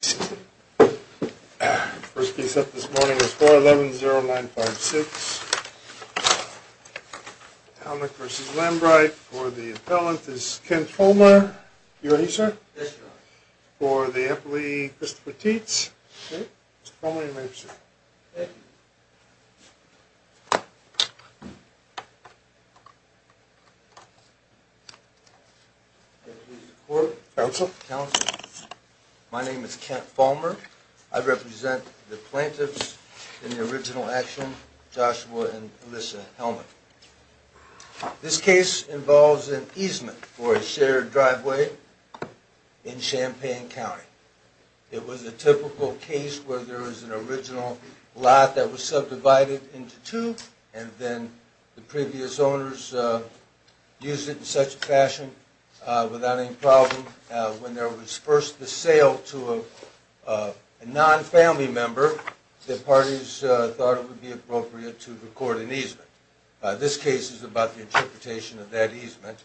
First case up this morning is 4-11-0-9-5-6. Halmick v. Lambright. For the appellant is Ken Fulmer. You ready, sir? Yes, Your Honor. For the appellee, Christopher Tietz. Okay. Mr. Fulmer, your name, sir. Thank you. My name is Kent Fulmer. I represent the plaintiffs in the original action, Joshua and Alyssa Halmick. This case involves an easement for a shared driveway in Champaign County. It was a typical case where there was an original lot that was subdivided into two and then the previous owners used it in such a fashion without any problem when there was first the sale to a non-family member that parties thought it would be appropriate to record an easement. This case is about the interpretation of that easement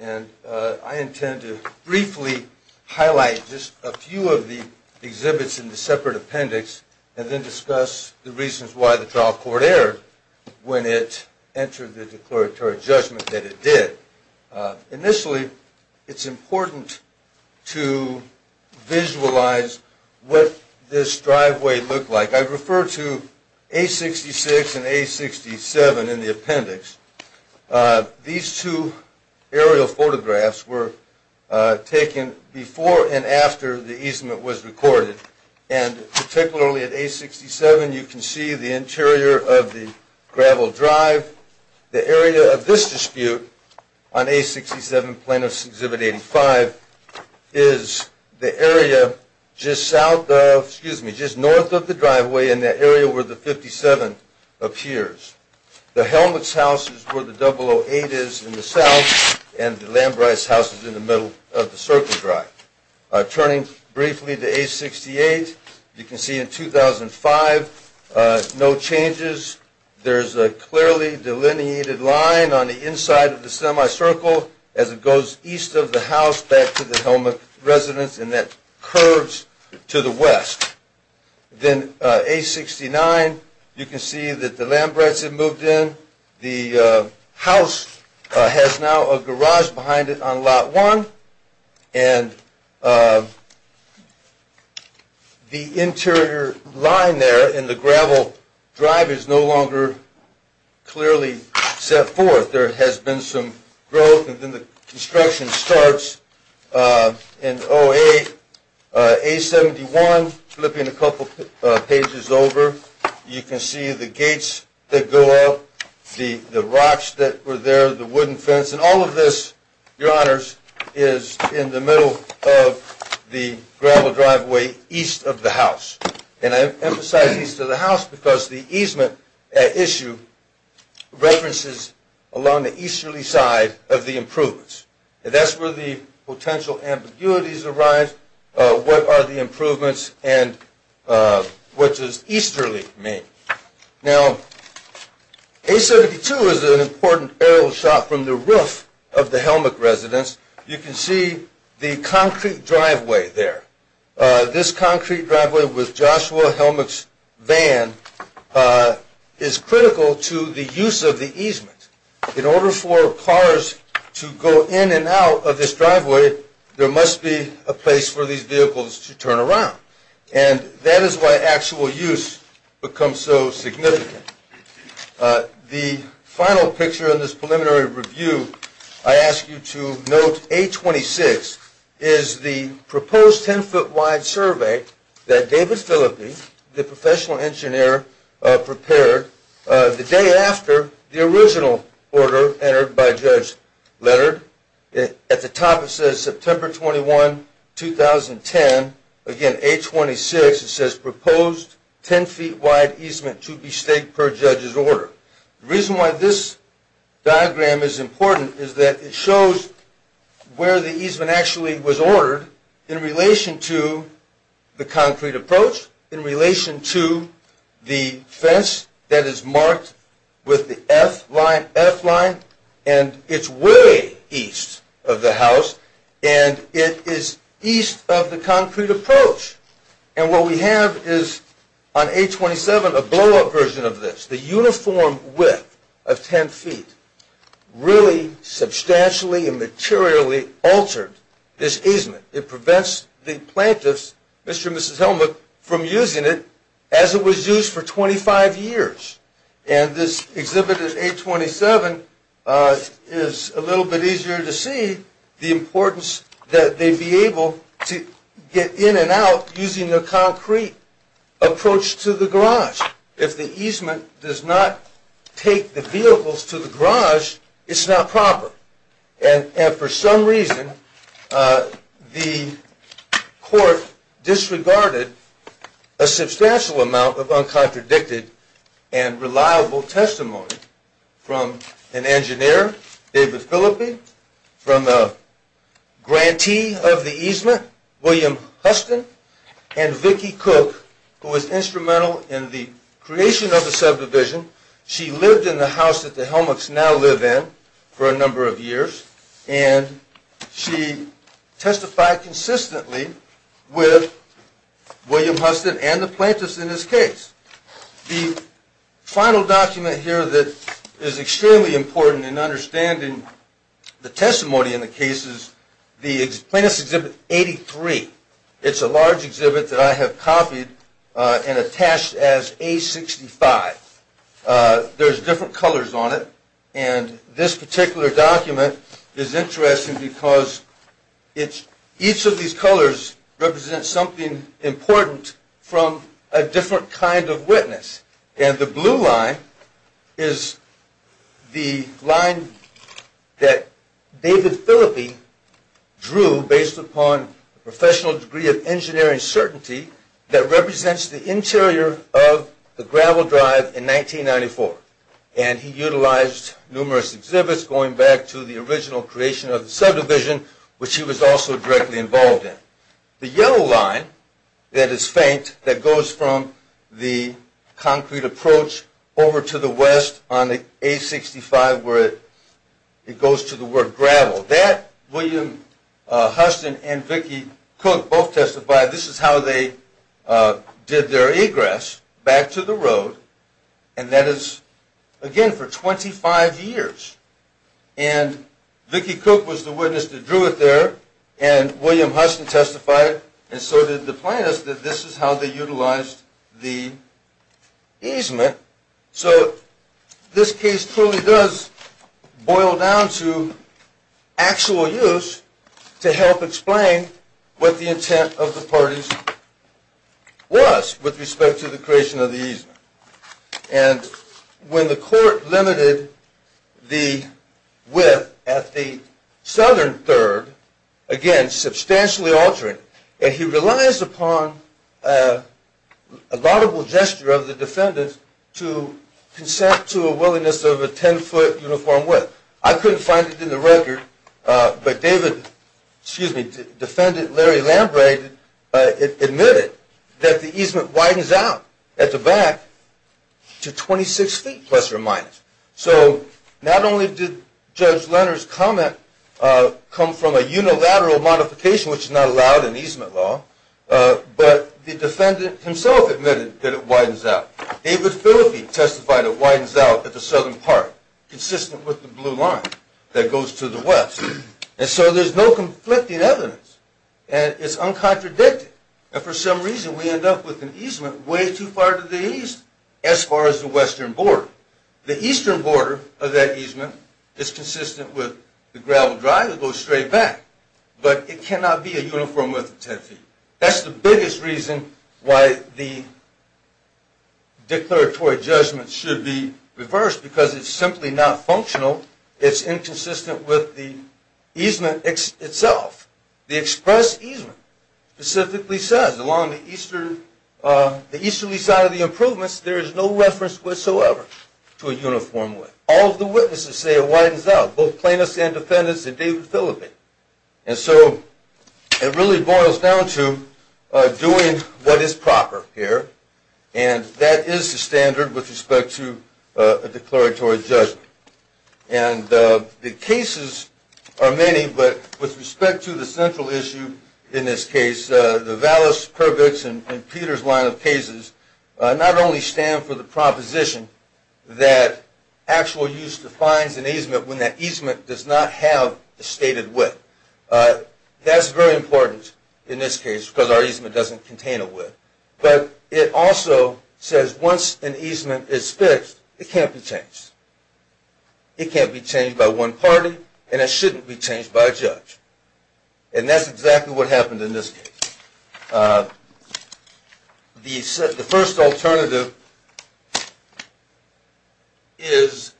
and I intend to briefly highlight just a few of the exhibits in the separate appendix and then discuss the reasons why the trial court erred when it entered the declaratory judgment that it did. Initially, it's important to visualize what this driveway looked like. I refer to A66 and A67 in the appendix. These two aerial photographs were taken before and after the easement was recorded and particularly at A67, you can see the interior of the gravel drive. The area of this dispute on A67 Plaintiffs' Exhibit 85 is the area just south of, excuse me, just north of the driveway in the area where the 57 appears. The Helmicks' house is where the 008 is in the south and the Lambrights' house is in the middle of the circle drive. Turning briefly to A68, you can see in 2005, no changes. There's a clearly delineated line on the inside of the semicircle as it goes east of the house back to the Helmick residence and that curves to the west. Then A69, you can see that the Lambrights have moved in. The house has now a garage behind it on Lot 1 and the interior line there in the gravel drive is no longer clearly set forth. There has been some growth and then the construction starts in 08. A71, flipping a couple pages over, you can see the gates that go up, the rocks that were there, the wooden fence, and all of this, your honors, is in the middle of the gravel driveway east of the house. And I emphasize east of the house because the easement at issue references along the easterly side of the improvements. And that's where the potential ambiguities arise, what are the improvements, and what does easterly mean? Now, A72 is an important aerial shot from the roof of the Helmick residence. You can see the concrete driveway there. This concrete driveway with Joshua Helmick's van is critical to the use of the easement. In order for cars to go in and out of this driveway, there must be a place for these vehicles to turn around. And that is why actual use becomes so significant. The final picture in this preliminary review, I ask you to note A26 is the proposed 10-foot wide survey that David Phillippe, the professional engineer, prepared the day after the original order entered by Judge Leonard. At the top it says September 21, 2010. Again, A26, it says proposed 10-foot wide easement to be staked per Judge's order. The reason why this diagram is important is that it shows where the easement actually was ordered in relation to the concrete approach, in relation to the fence that is marked with the F line, and it's way east of the house, and it is east of the concrete approach. And what we have is, on A27, a blow-up version of this. The uniform width of 10 feet really substantially and materially altered this easement. It prevents the plaintiffs, Mr. and Mrs. Helmut, from using it as it was used for 25 years. And this exhibit at A27 is a little bit easier to see the importance that they'd be able to get in and out using the concrete approach to the garage. If the easement does not take the vehicles to the garage, it's not proper. And for some reason, the court disregarded a substantial amount of uncontradicted and reliable testimony from an engineer, David Phillippe, from a grantee of the easement, William Huston, and Vicki Cook, who was instrumental in the creation of the subdivision. She lived in the house that the Helmuts now live in for a number of years, and she testified consistently with William Huston and the plaintiffs in this case. The final document here that is extremely important in understanding the testimony in the case is the Plaintiffs' Exhibit 83. It's a large exhibit that I have copied and attached as A65. There's different colors on it, and this particular document is interesting because each of these colors represents something important from a different kind of witness. And the blue line is the line that David Phillippe drew based upon a professional degree of engineering certainty that represents the interior of the gravel drive in 1994. And he utilized numerous exhibits going back to the original creation of the subdivision, which he was also directly involved in. The yellow line that is faint, that goes from the concrete approach over to the west on the A65 where it goes to the word gravel, that William Huston and Vicki Cook both testified, this is how they did their egress back to the road, and that is, again, for 25 years. And Vicki Cook was the witness that drew it there, and William Huston testified, and so did the plaintiffs, that this is how they utilized the easement. So this case truly does boil down to actual use to help explain what the intent of the parties was with respect to the creation of the easement. And when the court limited the width at the southern third, again, substantially altering, and he relies upon a laudable gesture of the defendant to consent to a willingness of a 10-foot uniform width. I couldn't find it in the record, but defendant Larry Lambre admitted that the easement widens out at the back to 26 feet, plus or minus. So not only did Judge Leonard's comment come from a unilateral modification, which is not allowed in easement law, but the defendant himself admitted that it widens out. David Phillipi testified it widens out at the southern part, consistent with the blue line that goes to the west. And so there's no conflicting evidence, and it's uncontradicted. And for some reason, we end up with an easement way too far to the east as far as the western border. The eastern border of that easement is consistent with the gravel drive that goes straight back, but it cannot be a uniform width of 10 feet. That's the biggest reason why the declaratory judgment should be reversed, because it's simply not functional. It's inconsistent with the easement itself. The express easement specifically says, along the easterly side of the improvements, there is no reference whatsoever to a uniform width. All of the witnesses say it widens out, both plaintiffs and defendants and David Phillipi. And so it really boils down to doing what is proper here, and that is the standard with respect to a declaratory judgment. And the cases are many, but with respect to the central issue in this case, the Vallis, Purvix, and Peters line of cases not only stand for the proposition that actual use defines an easement when that easement does not have the stated width. That's very important in this case, because our easement doesn't contain a width, but it also says once an easement is fixed, it can't be changed. It can't be changed by one party, and it shouldn't be changed by a judge, and that's exactly what happened in this case. The first alternative is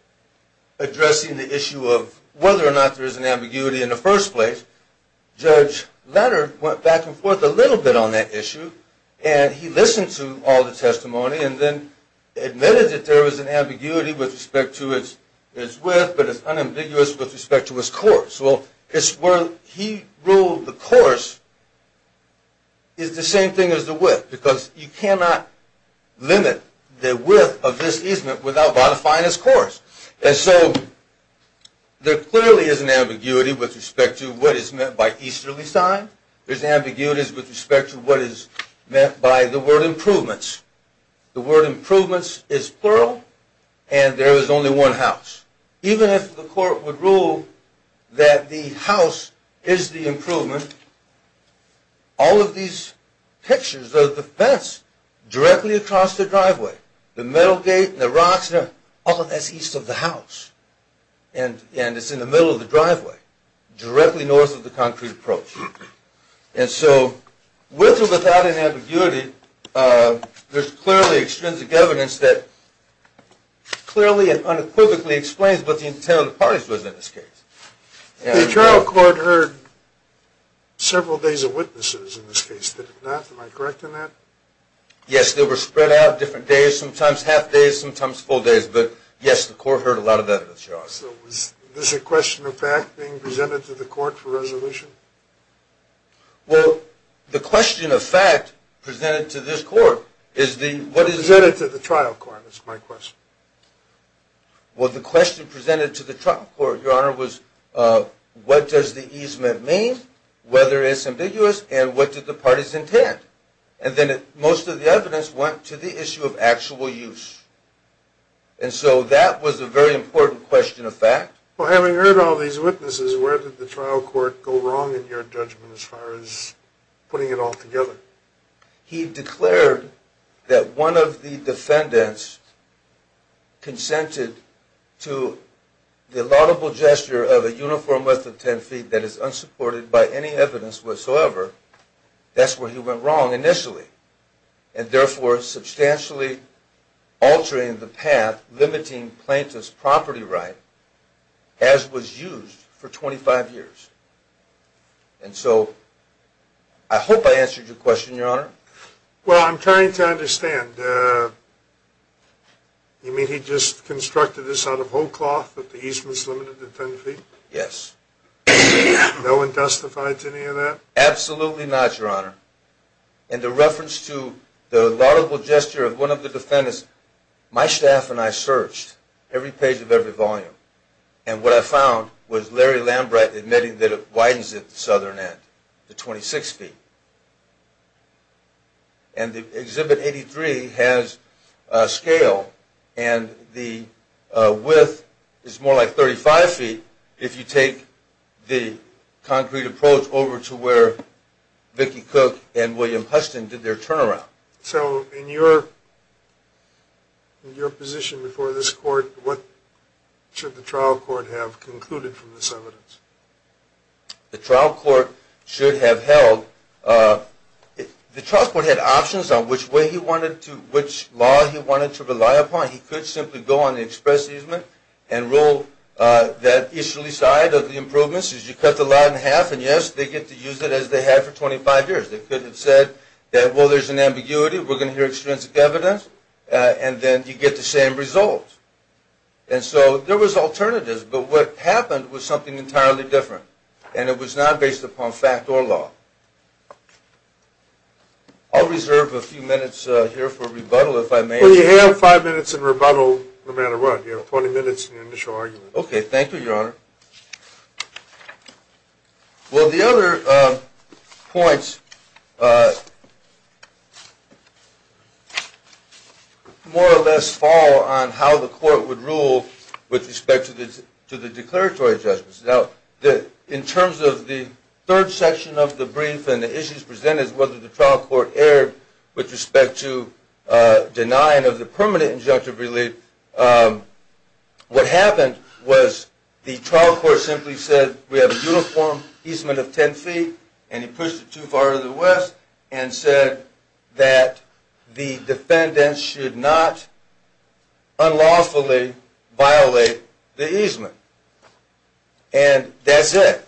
addressing the issue of whether or not there is an ambiguity in the first place. Judge Latter went back and forth a little bit on that issue, and he listened to all the testimony and then admitted that there was an ambiguity with respect to its width, but it's unambiguous with respect to its course. Well, it's where he ruled the course is the same thing as the width, because you cannot limit the width of this easement without modifying its course. And so there clearly is an ambiguity with respect to what is meant by easterly sign. There's ambiguities with respect to what is meant by the word improvements. The word improvements is plural, and there is only one house. Even if the court would rule that the house is the improvement, all of these pictures of the fence directly across the driveway, the metal gate and the rocks, all of that is east of the house, and it's in the middle of the driveway, directly north of the concrete approach. And so with or without an ambiguity, there's clearly extrinsic evidence that clearly and unequivocally explains what the intent of the parties was in this case. The trial court heard several days of witnesses in this case. Did it not? Am I correct in that? Yes, they were spread out different days, sometimes half days, sometimes full days. But yes, the court heard a lot of evidence, Your Honor. So was this a question of fact being presented to the court for resolution? Well, the question of fact presented to this court is the, what is the- Presented to the trial court, is my question. Well, the question presented to the trial court, Your Honor, was what does the easement mean, whether it's ambiguous, and what did the parties intend? And then most of the evidence went to the issue of actual use. And so that was a very important question of fact. Well, having heard all these witnesses, where did the trial court go wrong in your judgment as far as putting it all together? He declared that one of the defendants consented to the laudable gesture of a uniform width of 10 feet that is unsupported by any evidence whatsoever. That's where he went wrong initially. And therefore, substantially altering the path limiting plaintiff's property right as was used for 25 years. And so I hope I answered your question, Your Honor. Well, I'm trying to understand. You mean he just constructed this out of whole cloth that the easement's limited to 10 feet? Yes. No one testified to any of that? Absolutely not, Your Honor. And the reference to the laudable gesture of one of the defendants, my staff and I searched every page of every volume. And what I found was Larry Lambright admitting that it widens at the southern end to 26 feet. And the Exhibit 83 has a scale and the width is more like 35 feet if you take the concrete approach over to where Vickie Cook and William Huston did their turnaround. So in your position before this court, what should the trial court have concluded from this evidence? The trial court should have held, the trial court had options on which way he wanted to, which law he wanted to rely upon. He could simply go on the express easement and rule that easterly side of the improvements is you cut the law in half and yes, they get to use it as they have for 25 years. They could have said that, well, there's an ambiguity, we're going to hear extrinsic evidence, and then you get the same result. And so there was alternatives, but what happened was something entirely different and it was not based upon fact or law. I'll reserve a few minutes here for rebuttal if I may. Well, you have five minutes in rebuttal no matter what. You have 20 minutes in the initial argument. Okay, thank you, Your Honor. Well, the other points more or less fall on how the court would rule with respect to the declaratory judgments. Now, in terms of the third section of the brief and the issues presented, whether the trial court erred with respect to denying of the permanent injunctive relief, what happened was the trial court simply said we have a uniform easement of 10 feet and he pushed it too far to the west and said that the defendants should not unlawfully violate the easement, and that's it.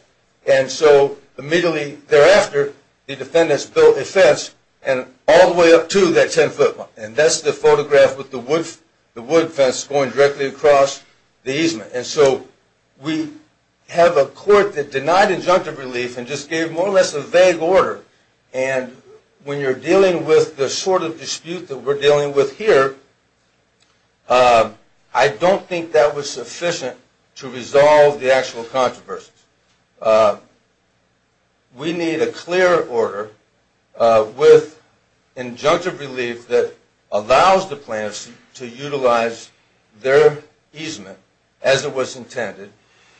And so immediately thereafter, the defendants built a fence all the way up to that 10-foot mark, and that's the photograph with the wood fence going directly across the easement. And so we have a court that denied injunctive relief and just gave more or less a vague order, and when you're dealing with the sort of dispute that we're dealing with here, I don't think that was sufficient to resolve the actual controversies. We need a clear order with injunctive relief that allows the plaintiffs to utilize their easement as it was intended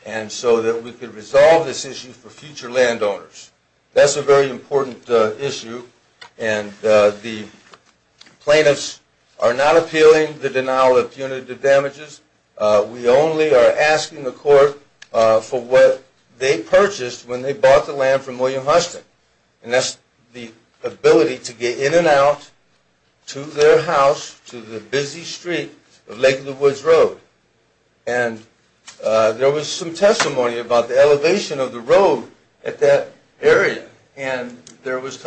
and so that we could resolve this issue for future landowners. That's a very important issue, and the plaintiffs are not appealing the denial of punitive damages. We only are asking the court for what they purchased when they bought the land from William Huston, and that's the ability to get in and out to their house to the busy street of Lake of the Woods Road. And there was some testimony about the elevation of the road at that area, and there was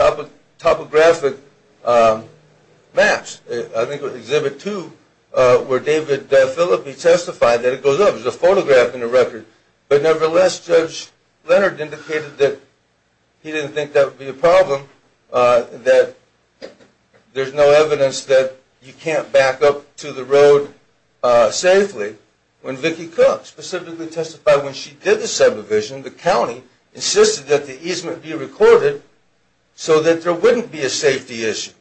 topographic maps, I think with Exhibit 2, where David Phillippe testified that it goes up, there's a photograph in the record. But nevertheless, Judge Leonard indicated that he didn't think that would be a problem, that there's no evidence that you can't back up to the road safely. When Vicki Cook specifically testified when she did the subdivision, the county insisted that the easement be recorded so that there wouldn't be a safety issue.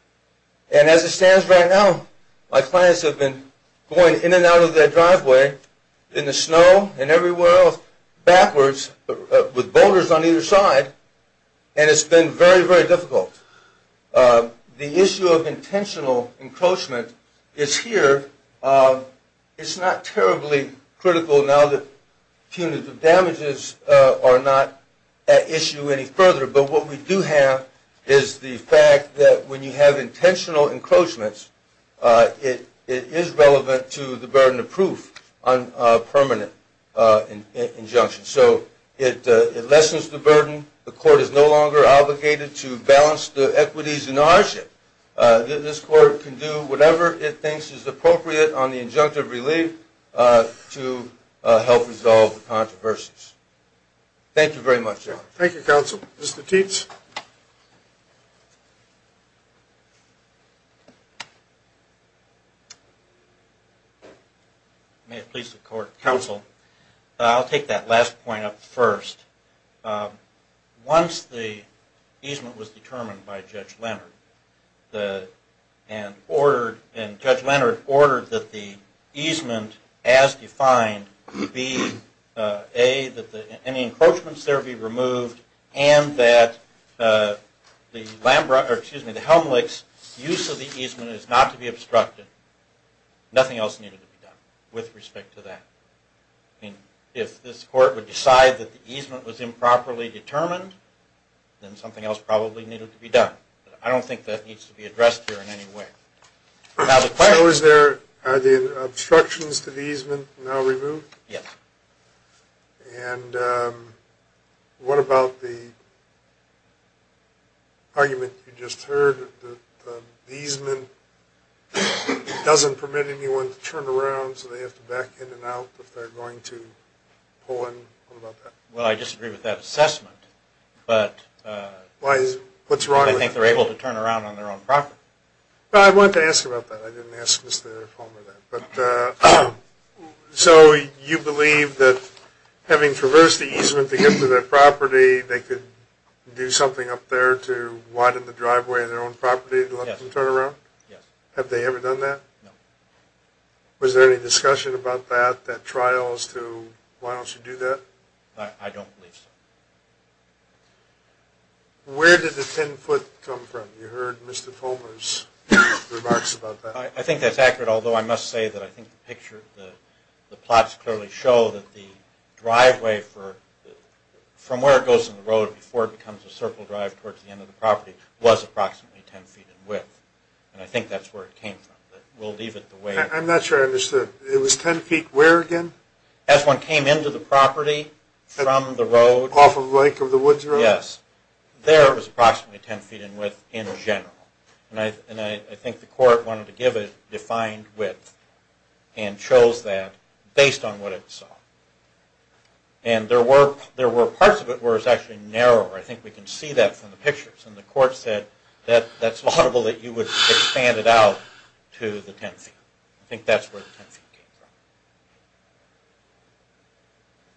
And as it stands right now, my clients have been going in and out of that driveway in the snow and everywhere else backwards with boulders on either side, and it's been very, very difficult. The issue of intentional encroachment is here. It's not terribly critical now that punitive damages are not at issue any further, but what we do have is the fact that when you have intentional encroachments, it is relevant to the burden of proof on a permanent injunction. So it lessens the burden. The court is no longer obligated to balance the equities and ownership. This court can do whatever it thinks is appropriate on the injunctive relief to help resolve the controversies. Thank you very much, Judge. Thank you, counsel. Mr. Teets? May it please the court, counsel. I'll take that last point up first. Once the easement was determined by Judge Leonard, and Judge Leonard ordered that the easement as defined be, A, that any encroachments there be removed, and that the Helmlich's use of the easement is not to be obstructed. Nothing else needed to be done with respect to that. I mean, if this court would decide that the easement was improperly determined, then something else probably needed to be done. I don't think that needs to be addressed here in any way. So are the obstructions to the easement now removed? Yes. And what about the argument you just heard, that the easement doesn't permit anyone to turn around, so they have to back in and out if they're going to pull in? What about that? Well, I disagree with that assessment, but I think they're able to turn around on their own property. Well, I wanted to ask you about that. I didn't ask Mr. Fulmer that. So you believe that having traversed the easement to get to their property, they could do something up there to widen the driveway of their own property to let them turn around? Yes. Have they ever done that? No. Was there any discussion about that, that trial, as to why don't you do that? I don't believe so. Where did the 10-foot come from? You heard Mr. Fulmer's remarks about that. I think that's accurate, although I must say that I think the plots clearly show that the driveway from where it goes in the road before it becomes a circle drive towards the end of the property was approximately 10 feet in width. And I think that's where it came from. We'll leave it the way it is. I'm not sure I understood. It was 10 feet where again? As one came into the property from the road. Off of Lake of the Woods Road? Yes. There it was approximately 10 feet in width in general. And I think the court wanted to give it defined width and chose that based on what it saw. And there were parts of it where it was actually narrower. I think we can see that from the pictures. And the court said that's laudable that you would expand it out to the 10 feet. I think that's where the 10 feet came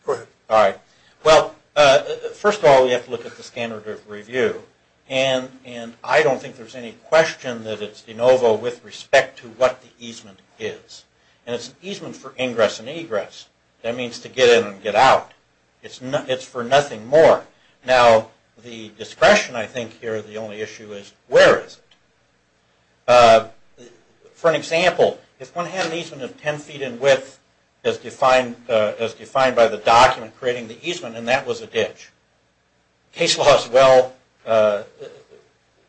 from. Go ahead. All right. Well, first of all, we have to look at the standard of review. And I don't think there's any question that it's de novo with respect to what the easement is. And it's an easement for ingress and egress. That means to get in and get out. It's for nothing more. Now, the discretion I think here, the only issue is where is it? For an example, if one had an easement of 10 feet in width as defined by the document creating the easement and that was a ditch, case law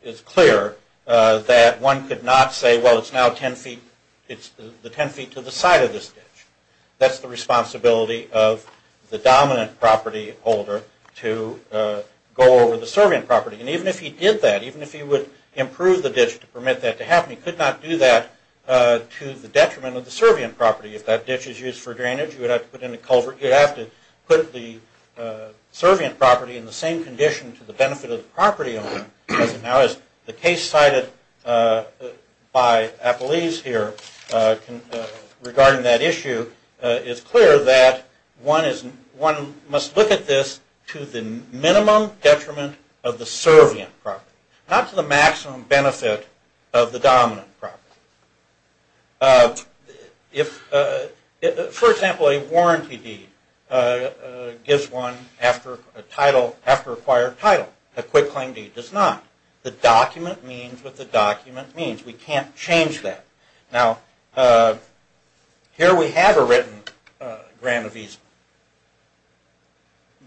is clear that one could not say, well, it's now the 10 feet to the side of this ditch. That's the responsibility of the dominant property holder to go over the servant property. And even if he did that, even if he would improve the ditch to permit that to happen, he could not do that to the detriment of the servient property. If that ditch is used for drainage, you would have to put in a culvert. You'd have to put the servient property in the same condition to the benefit of the property owner because now as the case cited by Appleese here regarding that issue, it's clear that one must look at this to the minimum detriment of the servient property, not to the maximum benefit of the dominant property. For example, a warranty deed gives one after acquired title. A quick claim deed does not. The document means what the document means. We can't change that. Now, here we have a written grant of easement.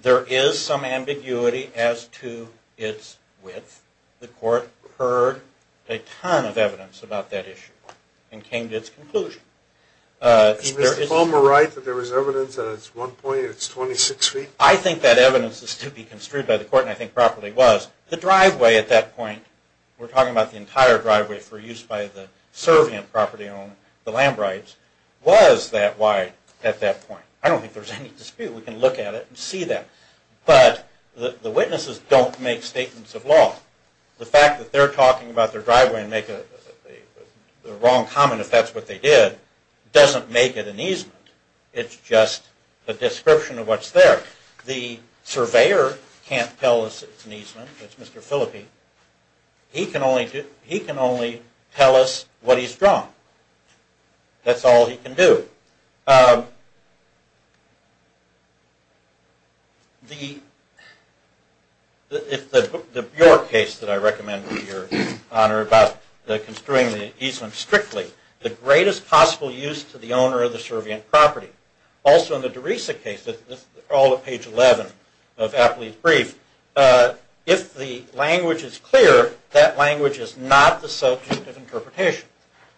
There is some ambiguity as to its width. The court heard a ton of evidence about that issue and came to its conclusion. Is Mr. Fulmer right that there was evidence that at one point it's 26 feet? I think that evidence is to be construed by the court and I think properly was. The driveway at that point, we're talking about the entire driveway for use by the servient property owner, the Lambrights, was that wide at that point. I don't think there's any dispute. We can look at it and see that. But the witnesses don't make statements of law. The fact that they're talking about their driveway and make the wrong comment if that's what they did doesn't make it an easement. It's just a description of what's there. The surveyor can't tell us it's an easement. It's Mr. Phillippe. He can only tell us what he's drawn. That's all he can do. If your case that I recommend to your Honor about the construing the easement strictly, the greatest possible use to the owner of the servient property, also in the Derisa case, all of page 11 of Apley's brief, if the language is clear, that language is not the subject of interpretation.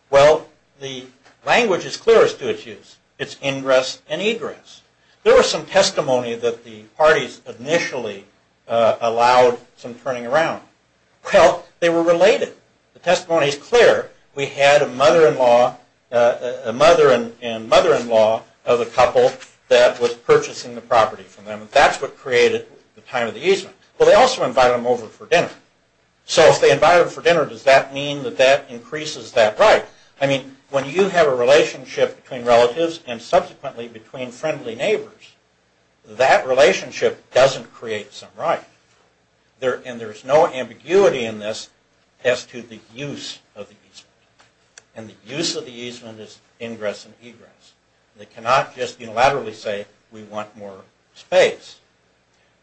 Well, the language is clear as to its use. It's ingress and egress. There was some testimony that the parties initially allowed some turning around. Well, they were related. The testimony is clear. We had a mother-in-law, a mother and mother-in-law of a couple that was purchasing the property from them. That's what created the time of the easement. Well, they also invited them over for dinner. So if they invited them for dinner, does that mean that that increases that right? I mean, when you have a relationship between relatives and subsequently between friendly neighbors, that relationship doesn't create some right. And there's no ambiguity in this as to the use of the easement. And the use of the easement is ingress and egress. They cannot just unilaterally say, we want more space.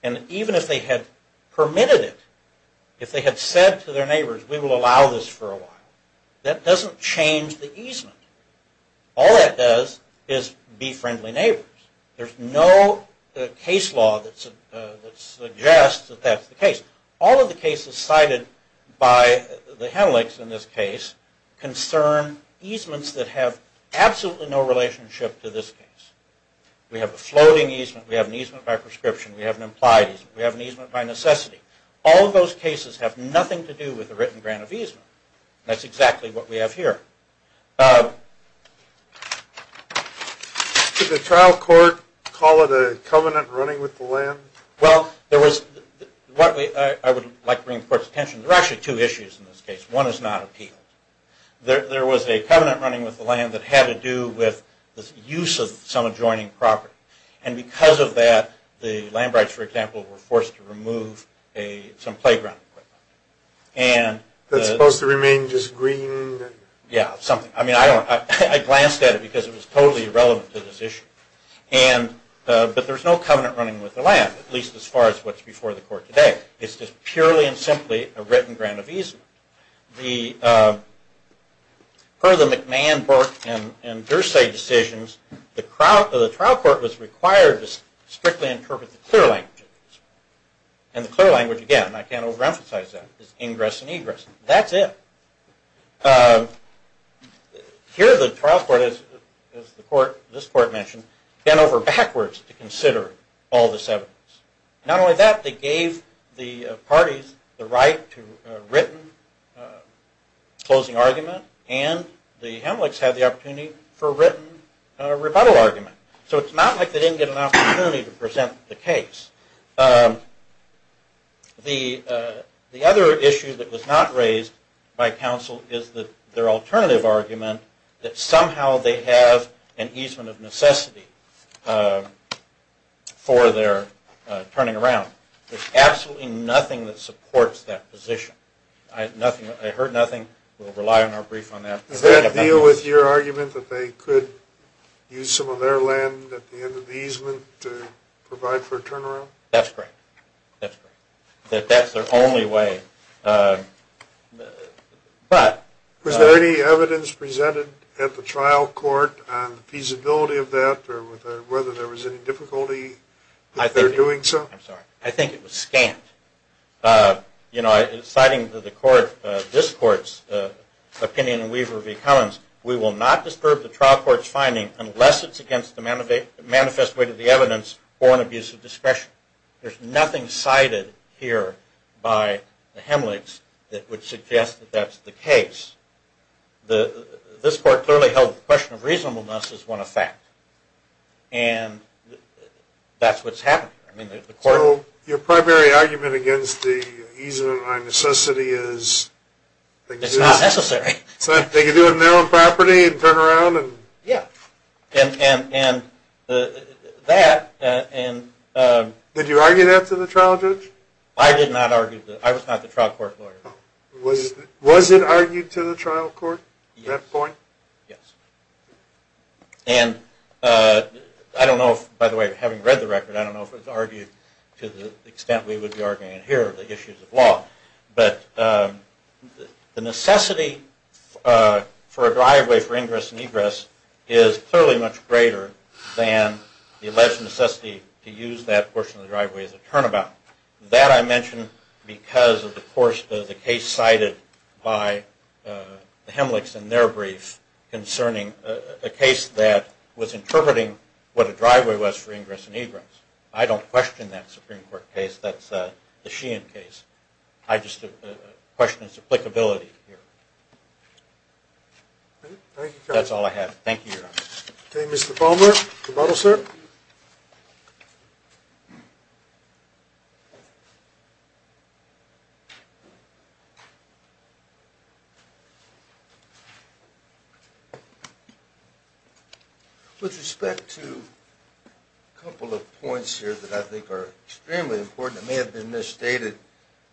And even if they had permitted it, if they had said to their neighbors, we will allow this for a while, that doesn't change the easement. All that does is be friendly neighbors. There's no case law that suggests that that's the case. All of the cases cited by the Henelix in this case concern easements that have absolutely no relationship to this case. We have a floating easement. We have an easement by prescription. We have an implied easement. We have an easement by necessity. All of those cases have nothing to do with a written grant of easement. That's exactly what we have here. Could the trial court call it a covenant running with the land? Well, I would like to bring the court's attention. There are actually two issues in this case. One is not appealed. There was a covenant running with the land that had to do with the use of some adjoining And because of that, the Landbrights, for example, were forced to remove some playground equipment. That's supposed to remain just green? Yeah, something. I mean, I glanced at it because it was totally irrelevant to this issue. But there's no covenant running with the land, at least as far as what's before the court today. It's just purely and simply a written grant of easement. Per the McMahon, Burke, and Dursay decisions, the trial court was required to strictly interpret the clear language of the easement. And the clear language, again, I can't overemphasize that, is ingress and egress. That's it. Here, the trial court, as this court mentioned, bent over backwards to consider all this evidence. Not only that, they gave the parties the right to a written closing argument. And the Hemlicks had the opportunity for a written rebuttal argument. So it's not like they didn't get an opportunity to present the case. The other issue that was not raised by counsel is their alternative argument that somehow they have an easement of necessity for their turning around. There's absolutely nothing that supports that position. I heard nothing. We'll rely on our brief on that. Does that deal with your argument that they could use some of their land at the end of That's great. That's their only way. Was there any evidence presented at the trial court on the feasibility of that, or whether there was any difficulty with their doing so? I'm sorry. I think it was scant. Citing this court's opinion in Weaver v. Cummins, we will not disturb the trial court's manifest way to the evidence for an abuse of discretion. There's nothing cited here by the Hemlicks that would suggest that that's the case. This court clearly held the question of reasonableness as one of fact. And that's what's happening. Your primary argument against the easement of my necessity is It's not necessary. They could do it now on property and turn around and Yeah, and that Did you argue that to the trial judge? I did not argue that. I was not the trial court lawyer. Was it argued to the trial court at that point? Yes. And I don't know if, by the way, having read the record, I don't know if it's argued to the extent we would be arguing it here, the issues of law. But the necessity for a driveway for ingress and egress is clearly much greater than the alleged necessity to use that portion of the driveway as a turnabout. That I mentioned because of the case cited by the Hemlicks in their brief concerning a case that was interpreting what a driveway was for ingress and egress. I don't question that Supreme Court case. That's the Sheehan case. I just question its applicability here. That's all I have. Thank you. With respect to a couple of points here that I think are extremely important, may have been misstated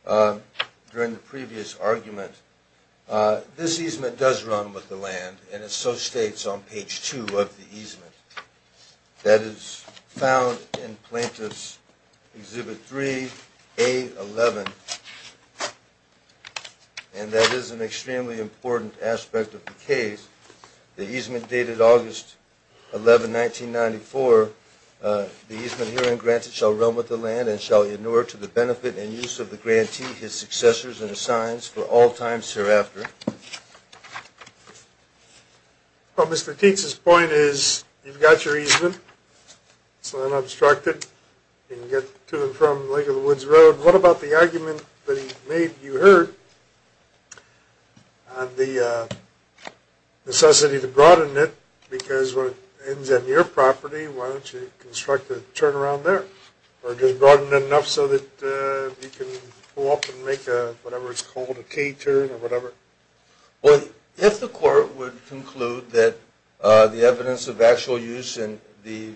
during the previous argument. This easement does run with the land, and it so states on page two of the easement. That is found in Plaintiff's Exhibit 3A11. And that is an extremely important aspect of the case. The easement dated August 11, 1994. The easement herein granted shall run with the land and shall inure to the benefit and use of the grantee his successors and assigns for all times hereafter. Well, Mr. Tietz's point is you've got your easement. It's not obstructed. You can get to and from Lake of the Woods Road. What about the argument that he made you heard on the necessity to broaden it? Because when it ends on your property, why don't you construct a turnaround there? Or just broaden it enough so that you can pull up and make a, whatever it's called, a K-turn or whatever? Well, if the court would conclude that the evidence of actual use and the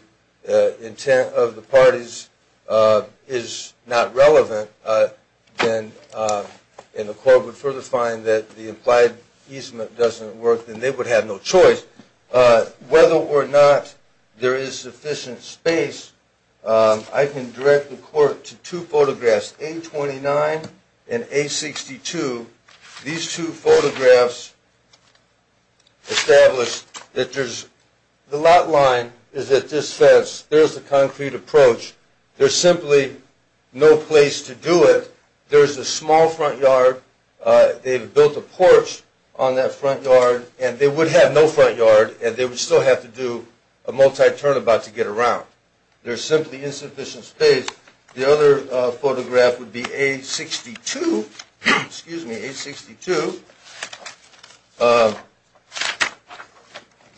intent of the parties is not relevant, and the court would further find that the implied easement doesn't work, then they would have no choice. Whether or not there is sufficient space, I can direct the court to two photographs, A29 and A62. These two photographs establish that there's, the lot line is at this fence. There's the concrete approach. There's simply no place to do it. There's a small front yard. They've built a porch on that front yard. And they would have no front yard, and they would still have to do a multi-turnabout to get around. There's simply insufficient space. The other photograph would be A62, excuse me, A62.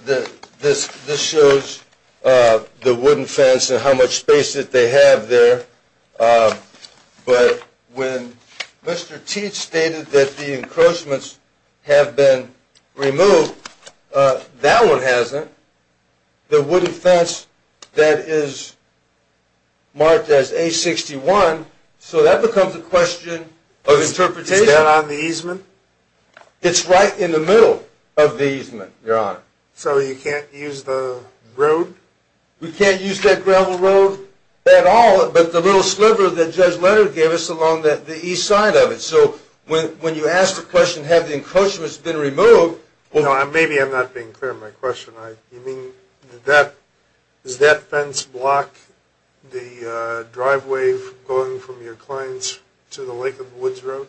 This shows the wooden fence and how much space that they have there. But when Mr. Teach stated that the encroachments have been removed, that one hasn't. The wooden fence that is marked as A61, so that becomes a question of interpretation. Is that on the easement? It's right in the middle of the easement, Your Honor. So you can't use the road? We can't use that gravel road at all, but the little sliver that Judge Leonard gave us along the east side of it. So when you ask the question, have the encroachments been removed? Maybe I'm not being clear on my question. Does that fence block the driveway going from your clients to the lake of Woods Road?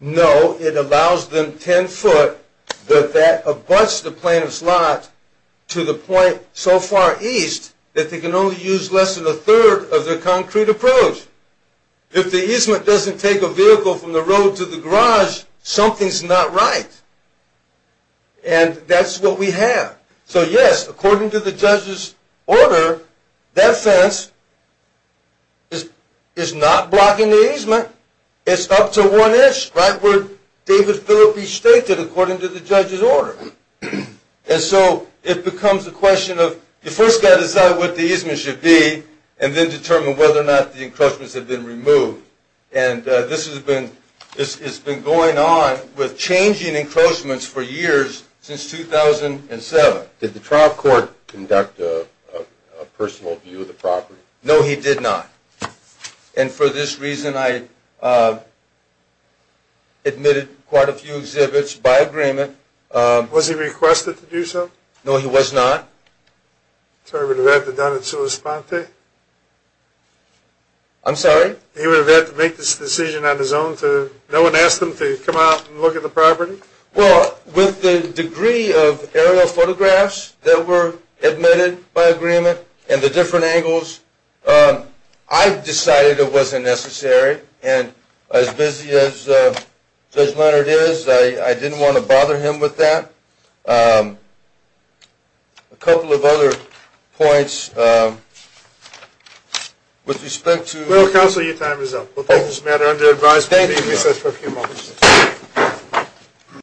No, it allows them 10 foot, but that abuts the plaintiff's lot to the point so far east that they can only use less than a third of their concrete approach. If the easement doesn't take a vehicle from the road to the garage, something's not right. And that's what we have. So yes, according to the judge's order, that fence is not blocking the easement. It's up to one inch, right where David Phillippe stated, according to the judge's order. And so it becomes a question of, you first got to decide what the easement should be, and then determine whether or not the encroachments have been removed. And this has been going on with changing encroachments for years, since 2007. Did the trial court conduct a personal view of the property? No, he did not. And for this reason, I admitted quite a few exhibits by agreement. Was he requested to do so? No, he was not. So he would have had to done it sua sponte? I'm sorry? He would have had to make this decision on his own? No one asked him to come out and look at the property? Well, with the degree of aerial photographs that were admitted by agreement, and the different angles, I decided it wasn't necessary. And as busy as Judge Leonard is, I didn't want to bother him with that. A couple of other points, with respect to- Well, counsel, your time is up. We'll take this matter under advisement. Thank you.